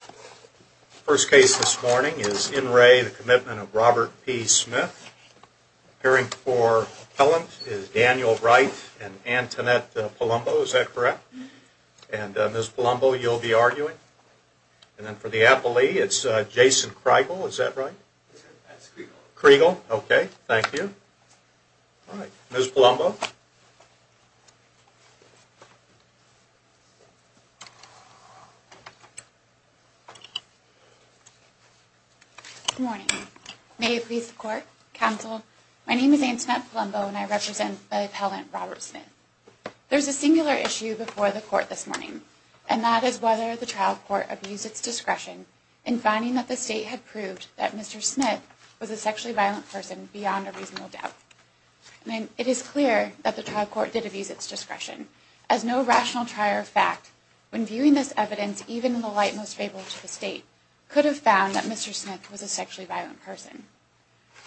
The first case this morning is in re the Commitment of Robert P. Smith. Appearing for appellant is Daniel Wright and Antoinette Palumbo. Is that correct? And Ms. Palumbo, you'll be arguing. And then for the appellee, it's Jason Kriegel. Is that right? That's Kriegel. Kriegel. Okay. Thank you. Ms. Palumbo. Good morning. May it please the court, counsel, my name is Antoinette Palumbo and I represent the appellant Robert Smith. There's a singular issue before the court this morning. And that is whether the trial court abused its discretion in finding that the state had proved that Mr. Smith was a sexually violent person beyond a reasonable doubt. It is clear that the trial court did abuse its discretion. As no rational trier of fact, when viewing this evidence, even in the light most favorable to the state, could have found that Mr. Smith was a sexually violent person.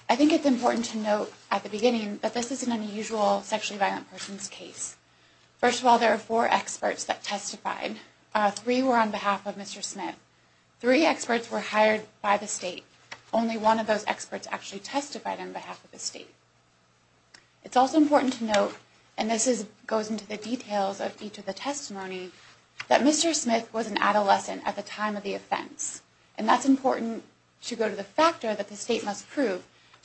I think it's important to note at the beginning that this is an unusual sexually violent person's case. First of all, there are four experts that testified. Three were on behalf of Mr. Smith. Three experts were hired by the state. Only one of those experts actually testified on behalf of the state. It's also important to note, and this goes into the details of each of the testimony, that Mr. Smith was an adolescent at the time of the offense. And that's important to go to the factor that the state must prove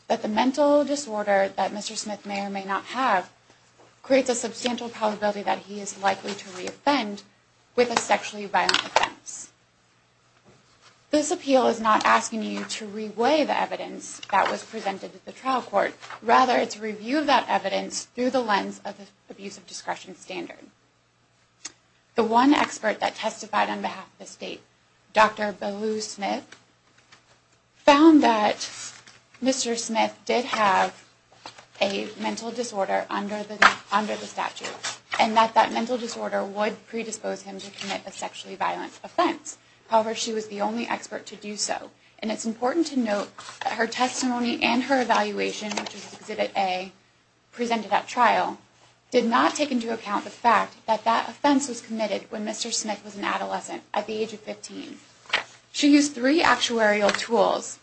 that the mental disorder that Mr. Smith may or may not have creates a substantial probability that he is likely to re-offend with a sexually violent offense. This appeal is not asking you to re-weigh the evidence that was presented to the trial court. Rather, it's a review of that evidence through the lens of the abuse of discretion standard. The one expert that testified on behalf of the state, Dr. Belu Smith, found that Mr. Smith did have a mental disorder under the statute. And that that mental disorder would predispose him to commit a sexually violent offense. However, she was the only expert to do so. And it's important to note that her testimony and her evaluation, which was Exhibit A, presented at trial, did not take into account the fact that that offense was committed when Mr. Smith was an adolescent at the age of 15. She used three actuarial tools.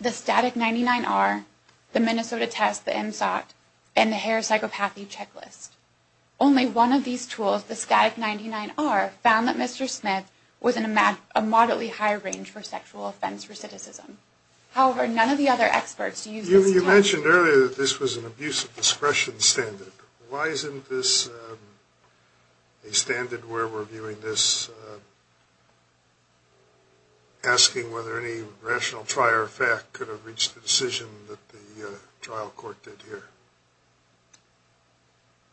The Static 99R, the Minnesota Test, the MSOT, and the Harris Psychopathy Checklist. Only one of these tools, the Static 99R, found that Mr. Smith was in a moderately high range for sexual offense recidivism. However, none of the other experts used this standard. You mentioned earlier that this was an abuse of discretion standard. Why isn't this a standard where we're viewing this, asking whether any rational trier of fact could have reached the decision that the trial court did here?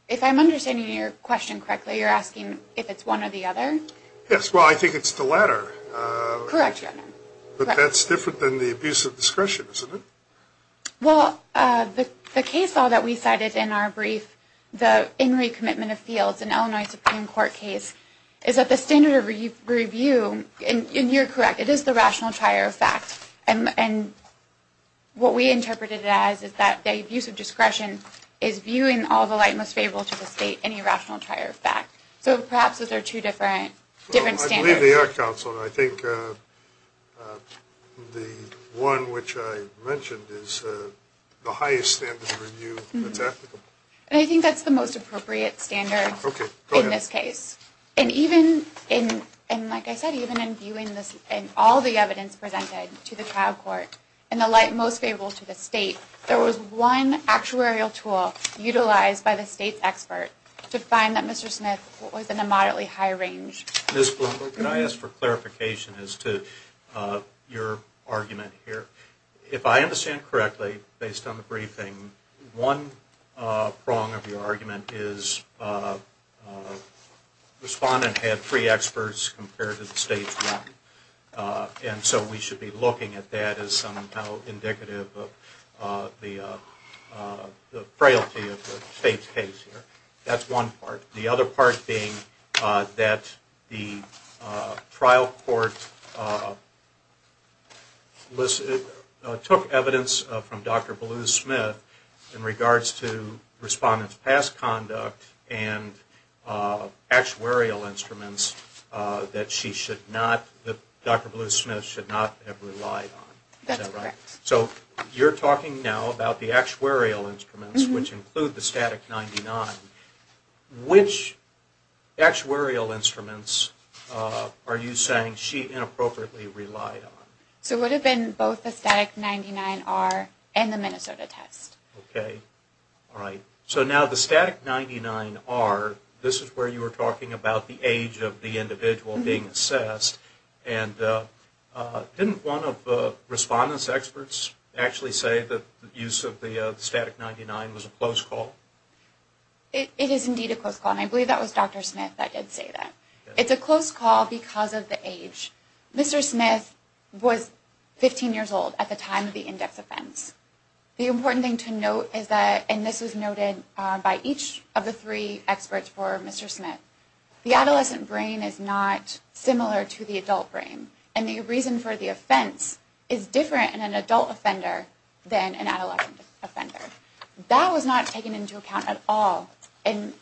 If I'm understanding your question correctly, you're asking if it's one or the other? Yes, well, I think it's the latter. Correct. But that's different than the abuse of discretion, isn't it? Well, the case law that we cited in our brief, the In Re Commitment of Fields, an Illinois Supreme Court case, is that the standard of review, and you're correct, it is the rational trier of fact. And what we interpreted it as is that the abuse of discretion is viewing all the light most favorable to the state and irrational trier of fact. So perhaps those are two different standards. Well, I believe they are, counsel, and I think the one which I mentioned is the highest standard of review that's applicable. And I think that's the most appropriate standard in this case. Okay, go ahead. And like I said, even in viewing all the evidence presented to the trial court in the light most favorable to the state, there was one actuarial tool utilized by the state's expert to find that Mr. Smith was in a moderately high range. Ms. Bloomberg, could I ask for clarification as to your argument here? If I understand correctly, based on the briefing, one prong of your argument is the respondent had three experts compared to the state's one. And so we should be looking at that as somehow indicative of the frailty of the state's case here. That's one part. The other part being that the trial court took evidence from Dr. Bluth-Smith in regards to respondent's past conduct and actuarial instruments that Dr. Bluth-Smith should not have relied on. Is that right? That's correct. So you're talking now about the actuarial instruments, which include the STATIC-99. Which actuarial instruments are you saying she inappropriately relied on? So it would have been both the STATIC-99R and the Minnesota test. Okay. All right. So now the STATIC-99R, this is where you were talking about the age of the individual being assessed. And didn't one of the respondent's experts actually say that the use of the STATIC-99 was a close call? It is indeed a close call. And I believe that was Dr. Smith that did say that. It's a close call because of the age. Mr. Smith was 15 years old at the time of the index offense. The important thing to note is that, and this was noted by each of the three experts for Mr. Smith, the adolescent brain is not similar to the adult brain. And the reason for the offense is different in an adult offender than an adolescent offender. That was not taken into account at all in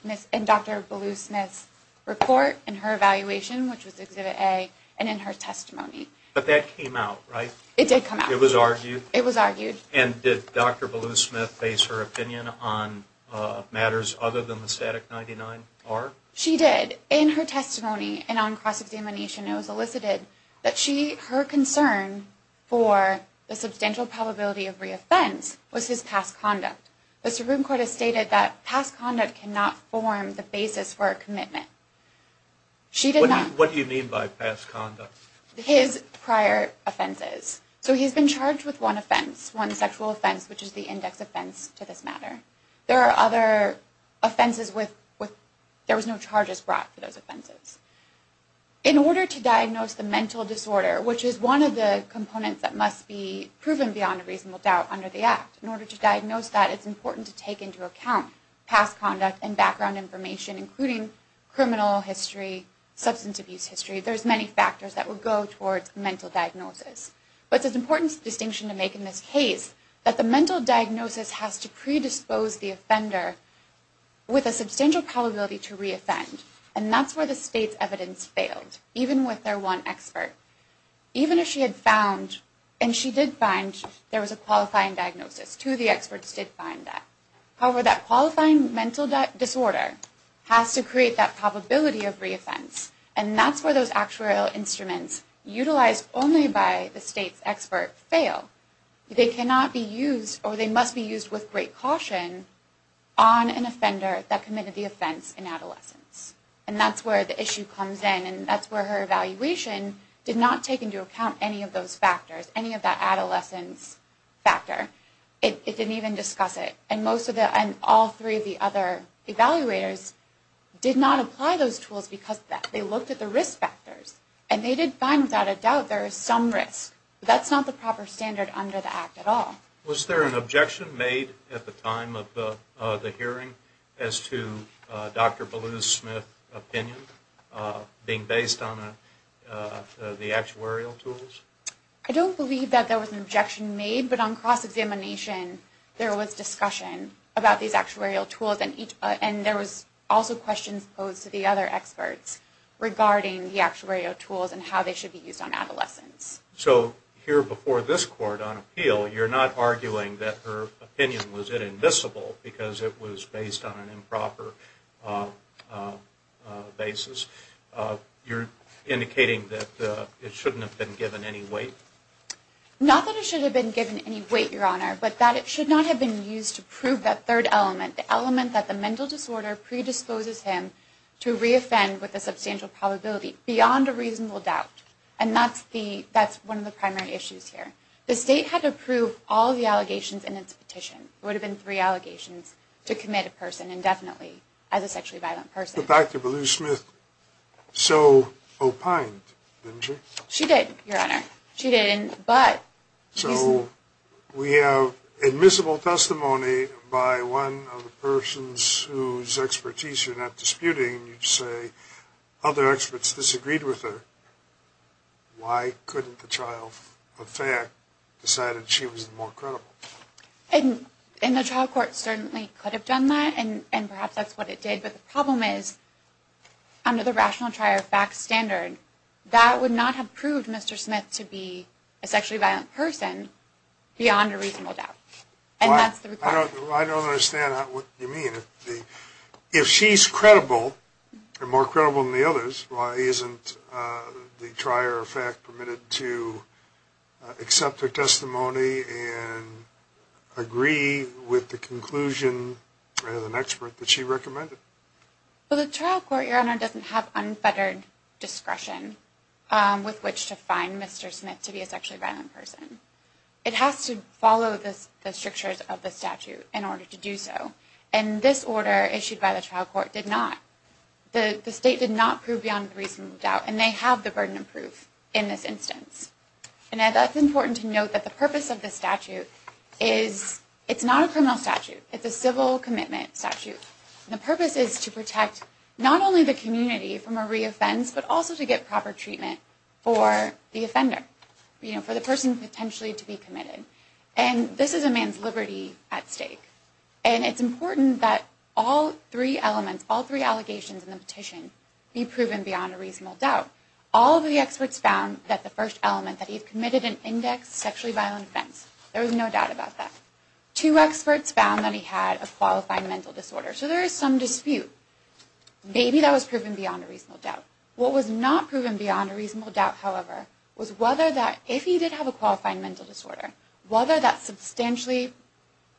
Dr. Bluth-Smith's report and her evaluation, which was Exhibit A, and in her testimony. But that came out, right? It did come out. It was argued. It was argued. And did Dr. Bluth-Smith base her opinion on matters other than the STATIC-99R? She did. In her testimony and on cross-examination, it was elicited that her concern for the substantial probability of reoffense was his past conduct. The Supreme Court has stated that past conduct cannot form the basis for a commitment. What do you mean by past conduct? His prior offenses. So he's been charged with one offense, one sexual offense, which is the index offense to this matter. There are other offenses with – there was no charges brought for those offenses. In order to diagnose the mental disorder, which is one of the components that must be proven beyond a reasonable doubt under the Act, in order to diagnose that, it's important to take into account past conduct and background information, including criminal history, substance abuse history. There's many factors that would go towards mental diagnosis. But it's an important distinction to make in this case that the mental diagnosis has to predispose the offender with a substantial probability to reoffend. And that's where the state's evidence failed, even with their one expert. Even if she had found – and she did find there was a qualifying diagnosis. Two of the experts did find that. However, that qualifying mental disorder has to create that probability of reoffense. And that's where those actuarial instruments, utilized only by the state's expert, fail. They cannot be used, or they must be used with great caution, on an offender that committed the offense in adolescence. And that's where the issue comes in, and that's where her evaluation did not take into account any of those factors, any of that adolescence factor. It didn't even discuss it. And all three of the other evaluators did not apply those tools because they looked at the risk factors. And they did find, without a doubt, there is some risk. But that's not the proper standard under the Act at all. Was there an objection made at the time of the hearing as to Dr. Ballew's opinion being based on the actuarial tools? I don't believe that there was an objection made. But on cross-examination, there was discussion about these actuarial tools. And there was also questions posed to the other experts regarding the actuarial tools and how they should be used on adolescents. So here before this Court, on appeal, you're not arguing that her opinion was inadmissible because it was based on an improper basis. You're indicating that it shouldn't have been given any weight? Not that it should have been given any weight, Your Honor, but that it should not have been used to prove that third element, the element that the mental disorder predisposes him to re-offend with a substantial probability beyond a reasonable doubt. And that's one of the primary issues here. The State had to prove all the allegations in its petition. It would have been three allegations to commit a person indefinitely as a sexually violent person. But Dr. Ballew-Smith so opined, didn't she? She did, Your Honor. She did. So we have admissible testimony by one of the persons whose expertise you're not disputing. You say other experts disagreed with her. Why couldn't the trial, in fact, decide that she was more credible? And the trial court certainly could have done that, and perhaps that's what it did. But the problem is, under the rational trier fact standard, that would not have proved Mr. Smith to be a sexually violent person beyond a reasonable doubt. I don't understand what you mean. If she's credible and more credible than the others, why isn't the trier fact permitted to accept her testimony and agree with the conclusion of an expert that she recommended? Well, the trial court, Your Honor, doesn't have unfettered discretion with which to find Mr. Smith to be a sexually violent person. It has to follow the strictures of the statute in order to do so. And this order issued by the trial court did not. The state did not prove beyond a reasonable doubt, and they have the burden of proof in this instance. And that's important to note that the purpose of the statute is it's not a criminal statute. It's a civil commitment statute. The purpose is to protect not only the community from a reoffense, but also to get proper treatment for the offender, for the person potentially to be committed. And this is a man's liberty at stake. And it's important that all three elements, all three allegations in the petition, be proven beyond a reasonable doubt. All of the experts found that the first element, that he committed an indexed sexually violent offense. There was no doubt about that. Two experts found that he had a qualified mental disorder. So there is some dispute. Maybe that was proven beyond a reasonable doubt. What was not proven beyond a reasonable doubt, however, was whether that if he did have a qualified mental disorder, whether that substantially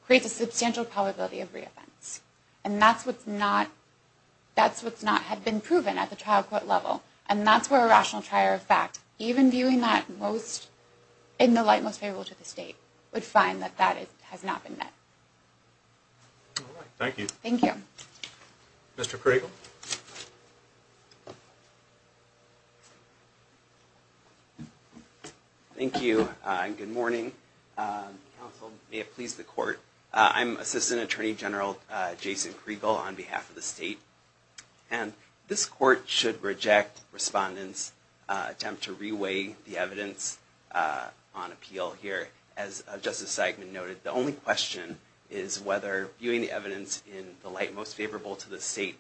creates a substantial probability of reoffense. And that's what's not had been proven at the trial court level. And that's where a rational trial of fact, even viewing that in the light most favorable to the state, would find that that has not been met. All right. Thank you. Thank you. Mr. Pringle. Thank you. Good morning. Counsel, may it please the court. I'm Assistant Attorney General Jason Pringle on behalf of the state. And this court should reject respondents' attempt to reweigh the evidence on appeal here. As Justice Seidman noted, the only question is whether viewing the evidence in the light most favorable to the state,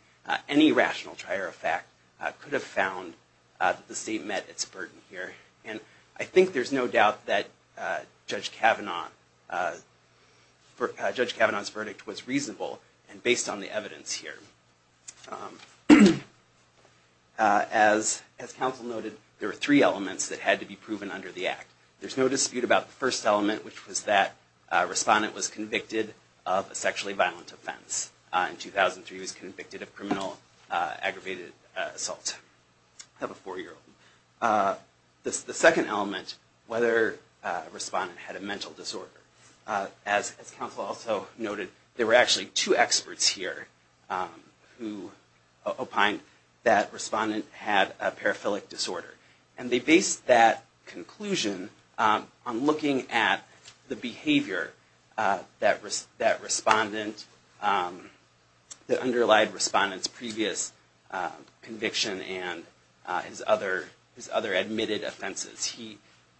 any rational trial of fact could have found that the state met its burden here. And I think there's no doubt that Judge Kavanaugh's verdict was reasonable and based on the evidence here. As counsel noted, there are three elements that had to be proven under the act. There's no dispute about the first element, which was that a respondent was convicted of a sexually violent offense. In 2003, he was convicted of criminal aggravated assault. I have a four-year-old. The second element, whether a respondent had a mental disorder. As counsel also noted, there were actually two experts here who opined that a respondent had a paraphilic disorder. And they based that conclusion on looking at the behavior that the underlying respondent's previous conviction and his other admitted offenses.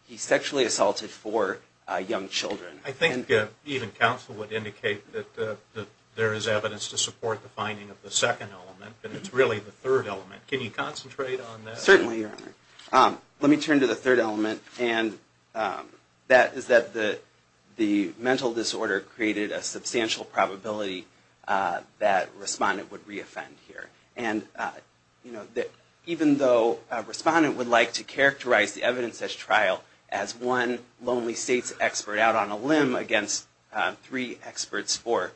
He sexually assaulted four young children. I think even counsel would indicate that there is evidence to support the finding of the second element, but it's really the third element. Can you concentrate on that? Certainly, Your Honor. Let me turn to the third element, and that is that the mental disorder created a substantial probability that a respondent would re-offend here. And even though a respondent would like to characterize the evidence at trial as one lonely state's expert out on a limb against three experts for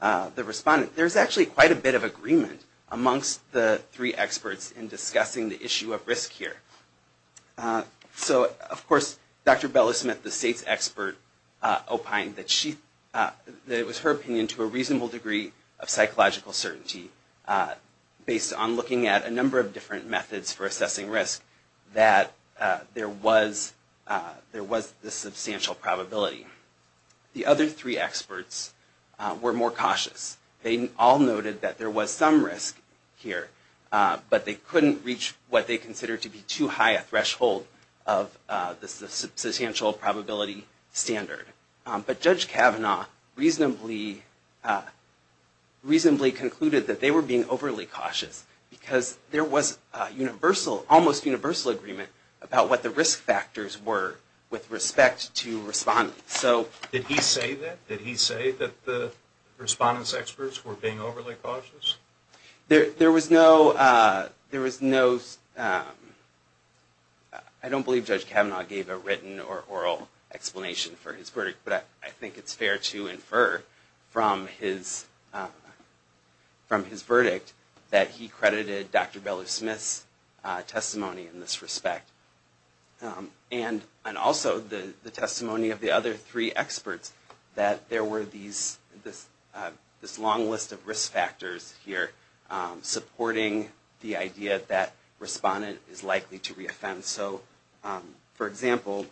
the respondent, there's actually quite a bit of agreement amongst the three experts in discussing the issue of risk here. So, of course, Dr. Bella-Smith, the state's expert, opined that it was her opinion to a reasonable degree of psychological certainty based on looking at a number of different methods for assessing risk that there was this substantial probability. The other three experts were more cautious. They all noted that there was some risk here, but they couldn't reach what they considered to be too high a threshold of the substantial probability standard. But Judge Kavanaugh reasonably concluded that they were being overly cautious, because there was almost universal agreement about what the risk factors were with respect to respondents. Did he say that? Did he say that the respondents' experts were being overly cautious? There was no... I don't believe Judge Kavanaugh gave a written or oral explanation for his verdict, but I think it's fair to infer from his verdict that he credited Dr. Bella-Smith's testimony in this respect. And also the testimony of the other three experts, that there were this long list of risk factors here, supporting the idea that respondent is likely to re-offend. So, for example,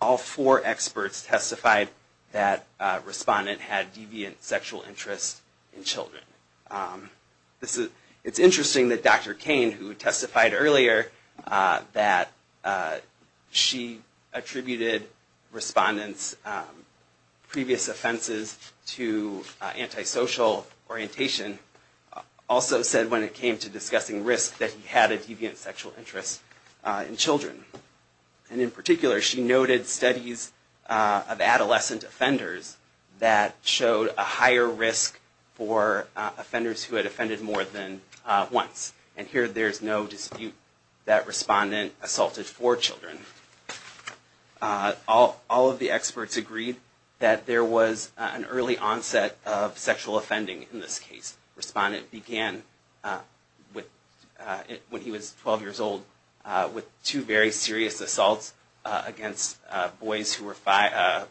all four experts testified that respondent had deviant sexual interest in children. It's interesting that Dr. Cain, who testified earlier that she attributed respondents' previous offenses to antisocial orientation, also said when it came to discussing risk that he had a deviant sexual interest in children. And in particular, she noted studies of adolescent offenders that showed a higher risk for offenders who had offended more than once. And here there's no dispute that respondent assaulted four children. All of the experts agreed that there was an early onset of sexual offending in this case. Respondent began, when he was 12 years old, with two very serious assaults against boys who were 5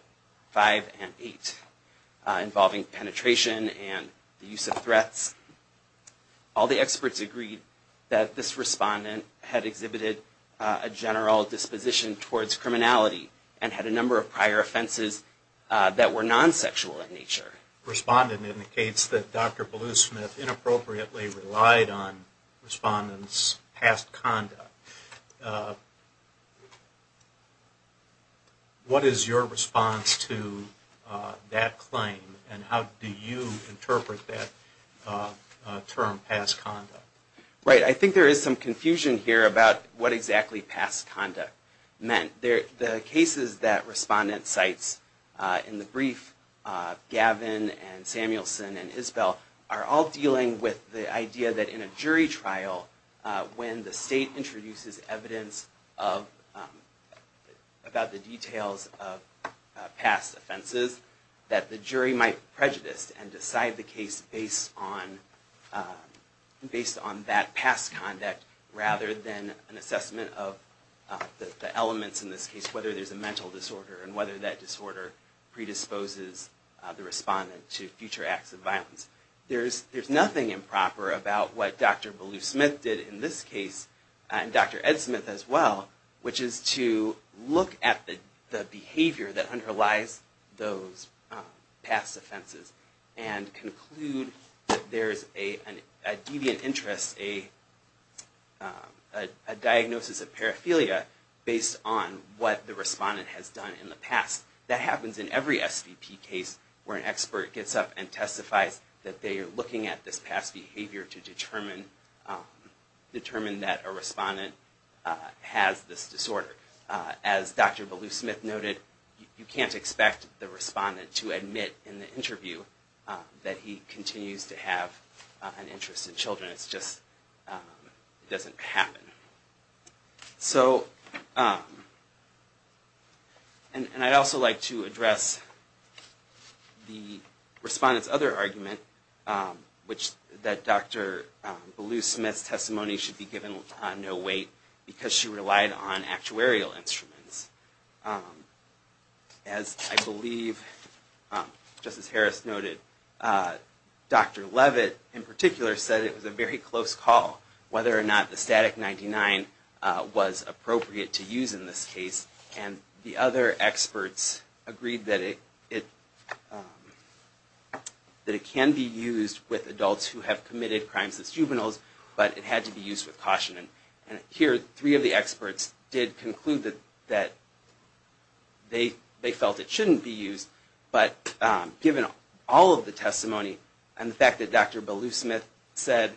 and 8, involving penetration and the use of threats. All the experts agreed that this respondent had exhibited a general disposition towards criminality and had a number of prior offenses that were non-sexual in nature. And here the respondent indicates that Dr. Bluesmith inappropriately relied on respondents' past conduct. What is your response to that claim and how do you interpret that term, past conduct? Right, I think there is some confusion here about what exactly past conduct meant. The cases that respondent cites in the brief, Gavin and Samuelson and Isbell, are all dealing with the idea that in a jury trial, when the state introduces evidence about the details of past offenses, that the jury might prejudice and decide the case based on that past conduct, rather than an assessment of the elements in this case, whether there's a mental disorder, and whether that disorder predisposes the respondent to future acts of violence. There's nothing improper about what Dr. Bluesmith did in this case, and Dr. Edsmith as well, which is to look at the behavior that underlies those past offenses, and conclude that there's a deviant interest, a diagnosis of paraphilia, based on what the respondent has done in the past. That happens in every SVP case where an expert gets up and testifies that they are looking at this past behavior to determine that a respondent has this disorder. As Dr. Bluesmith noted, you can't expect the respondent to admit in the interview that he continues to have an interest in children. It just doesn't happen. And I'd also like to address the respondent's other argument, which is that Dr. Bluesmith's testimony should be given no weight, because she relied on actuarial instruments. As I believe Justice Harris noted, Dr. Levitt in particular said it was a very close call whether or not the static 99 was appropriate to use in this case, and the other experts agreed that it can be used with adults who have committed crimes as juveniles, but it had to be used with caution. And here, three of the experts did conclude that they felt it shouldn't be used, but given all of the testimony and the fact that Dr. Bluesmith said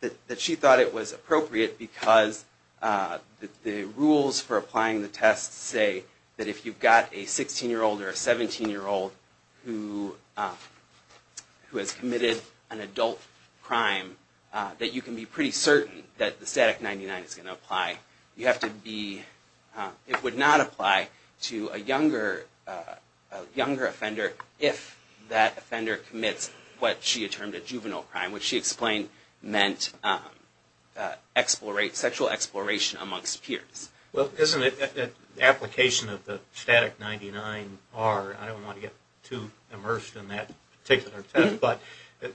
that she thought it was appropriate, because the rules for applying the test say that if you've got a 16-year-old or a 17-year-old who has committed an adult crime, that you can be pretty certain that the static 99 is going to apply. It would not apply to a younger offender if that offender commits what she had termed a juvenile crime, which she explained meant sexual exploration amongst peers. Well, isn't it that the application of the static 99R, I don't want to get too immersed in that particular test, but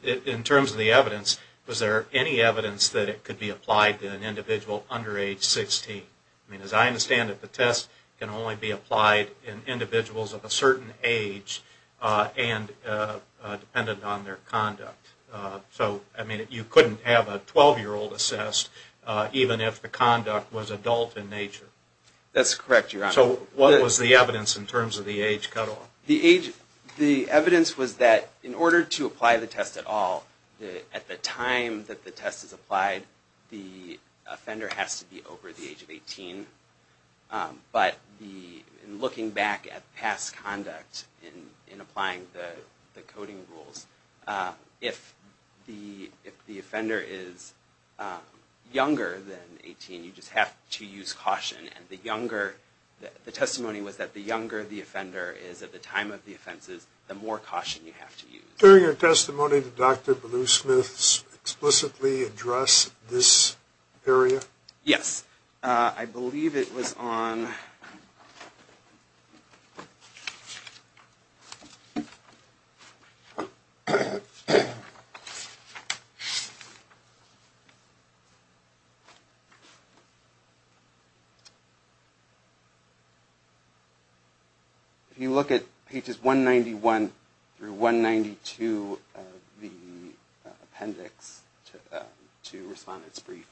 in terms of the evidence, was there any evidence that it could be applied to an individual under age 16? I mean, as I understand it, the test can only be applied in individuals of a certain age, and dependent on their conduct. So, I mean, you couldn't have a 12-year-old assessed even if the conduct was adult in nature. That's correct, Your Honor. So what was the evidence in terms of the age cutoff? The evidence was that in order to apply the test at all, at the time that the test is applied, that the offender has to be over the age of 18. But in looking back at past conduct in applying the coding rules, if the offender is younger than 18, you just have to use caution. And the testimony was that the younger the offender is at the time of the offenses, the more caution you have to use. Did your testimony to Dr. Bluesmith explicitly address this area? Yes. I believe it was on... If you look at pages 191 through 192 of the appendix to Respondent's Brief,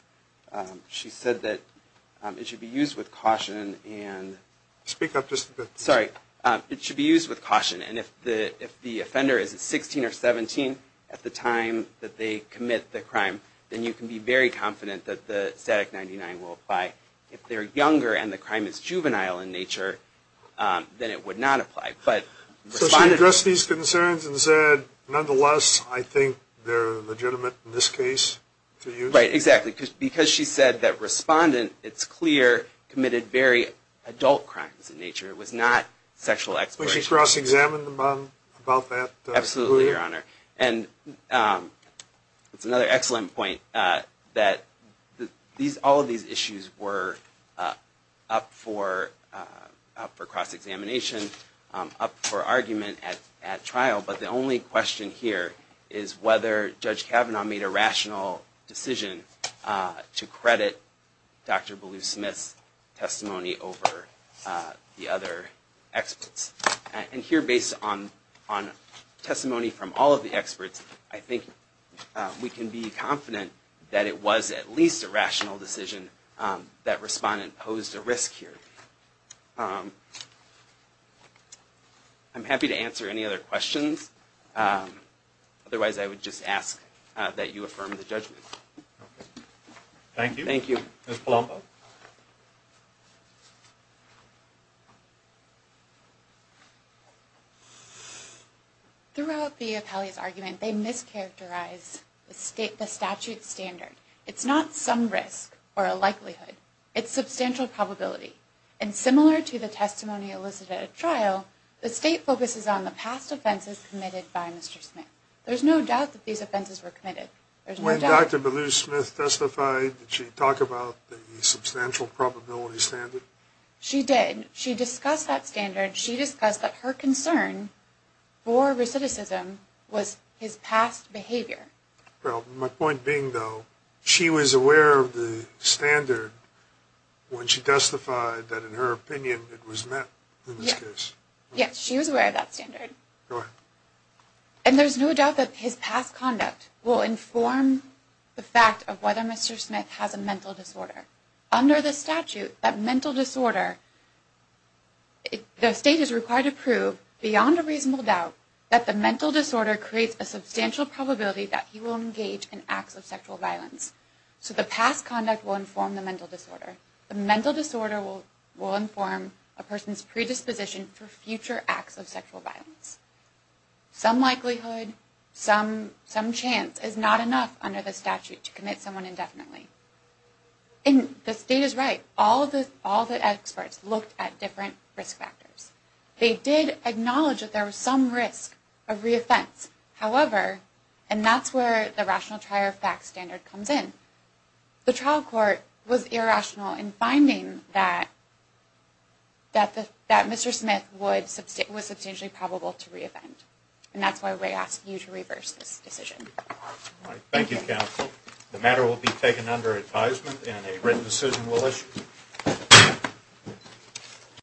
she said that it should be used with caution and... If the offender is 16 or 17 at the time that they commit the crime, then you can be very confident that the static 99 will apply. If they're younger and the crime is juvenile in nature, then it would not apply. So she addressed these concerns and said, nonetheless, I think they're legitimate in this case to use? Right. Exactly. Because she said that Respondent, it's clear, committed very adult crimes in nature. It was not sexual exploitation. It's another excellent point that all of these issues were up for cross-examination, up for argument at trial. But the only question here is whether Judge Kavanaugh made a rational decision to credit Dr. Bluesmith's testimony over the other experts. And here, based on testimony from all of the experts, I think we can be confident that it was at least a rational decision that Respondent posed a risk here. I'm happy to answer any other questions. Otherwise, I would just ask that you affirm the judgment. Thank you. Ms. Palombo. Throughout the Appellee's argument, they mischaracterize the statute standard. It's not some risk or a likelihood. It's substantial probability. And similar to the testimony elicited at trial, the state focuses on the past offenses committed by Mr. Smith. There's no doubt that these offenses were committed. When Dr. Bluesmith testified, did she talk about the substantial probability standard? She did. She discussed that standard. She discussed that her concern for recidivism was his past behavior. Well, my point being, though, she was aware of the standard when she testified that, in her opinion, it was met in this case. Yes, she was aware of that standard. And there's no doubt that his past conduct will inform the fact of whether Mr. Smith has a mental disorder. Under the statute, that mental disorder, the state is required to prove, beyond a reasonable doubt, that the mental disorder creates a substantial probability that he will engage in acts of sexual violence. So the past conduct will inform the mental disorder. The mental disorder will inform a person's predisposition for future acts of sexual violence. Some likelihood, some chance, is not enough under the statute to commit someone indefinitely. And the state is right. All the experts looked at different risk factors. They did acknowledge that there was some risk of re-offense. However, and that's where the rational trier fact standard comes in, the trial court was irrational in finding that Mr. Smith was substantially probable to re-offend. And that's why we ask you to reverse this decision. Thank you, counsel. The matter will be taken under advisement and a written decision will issue.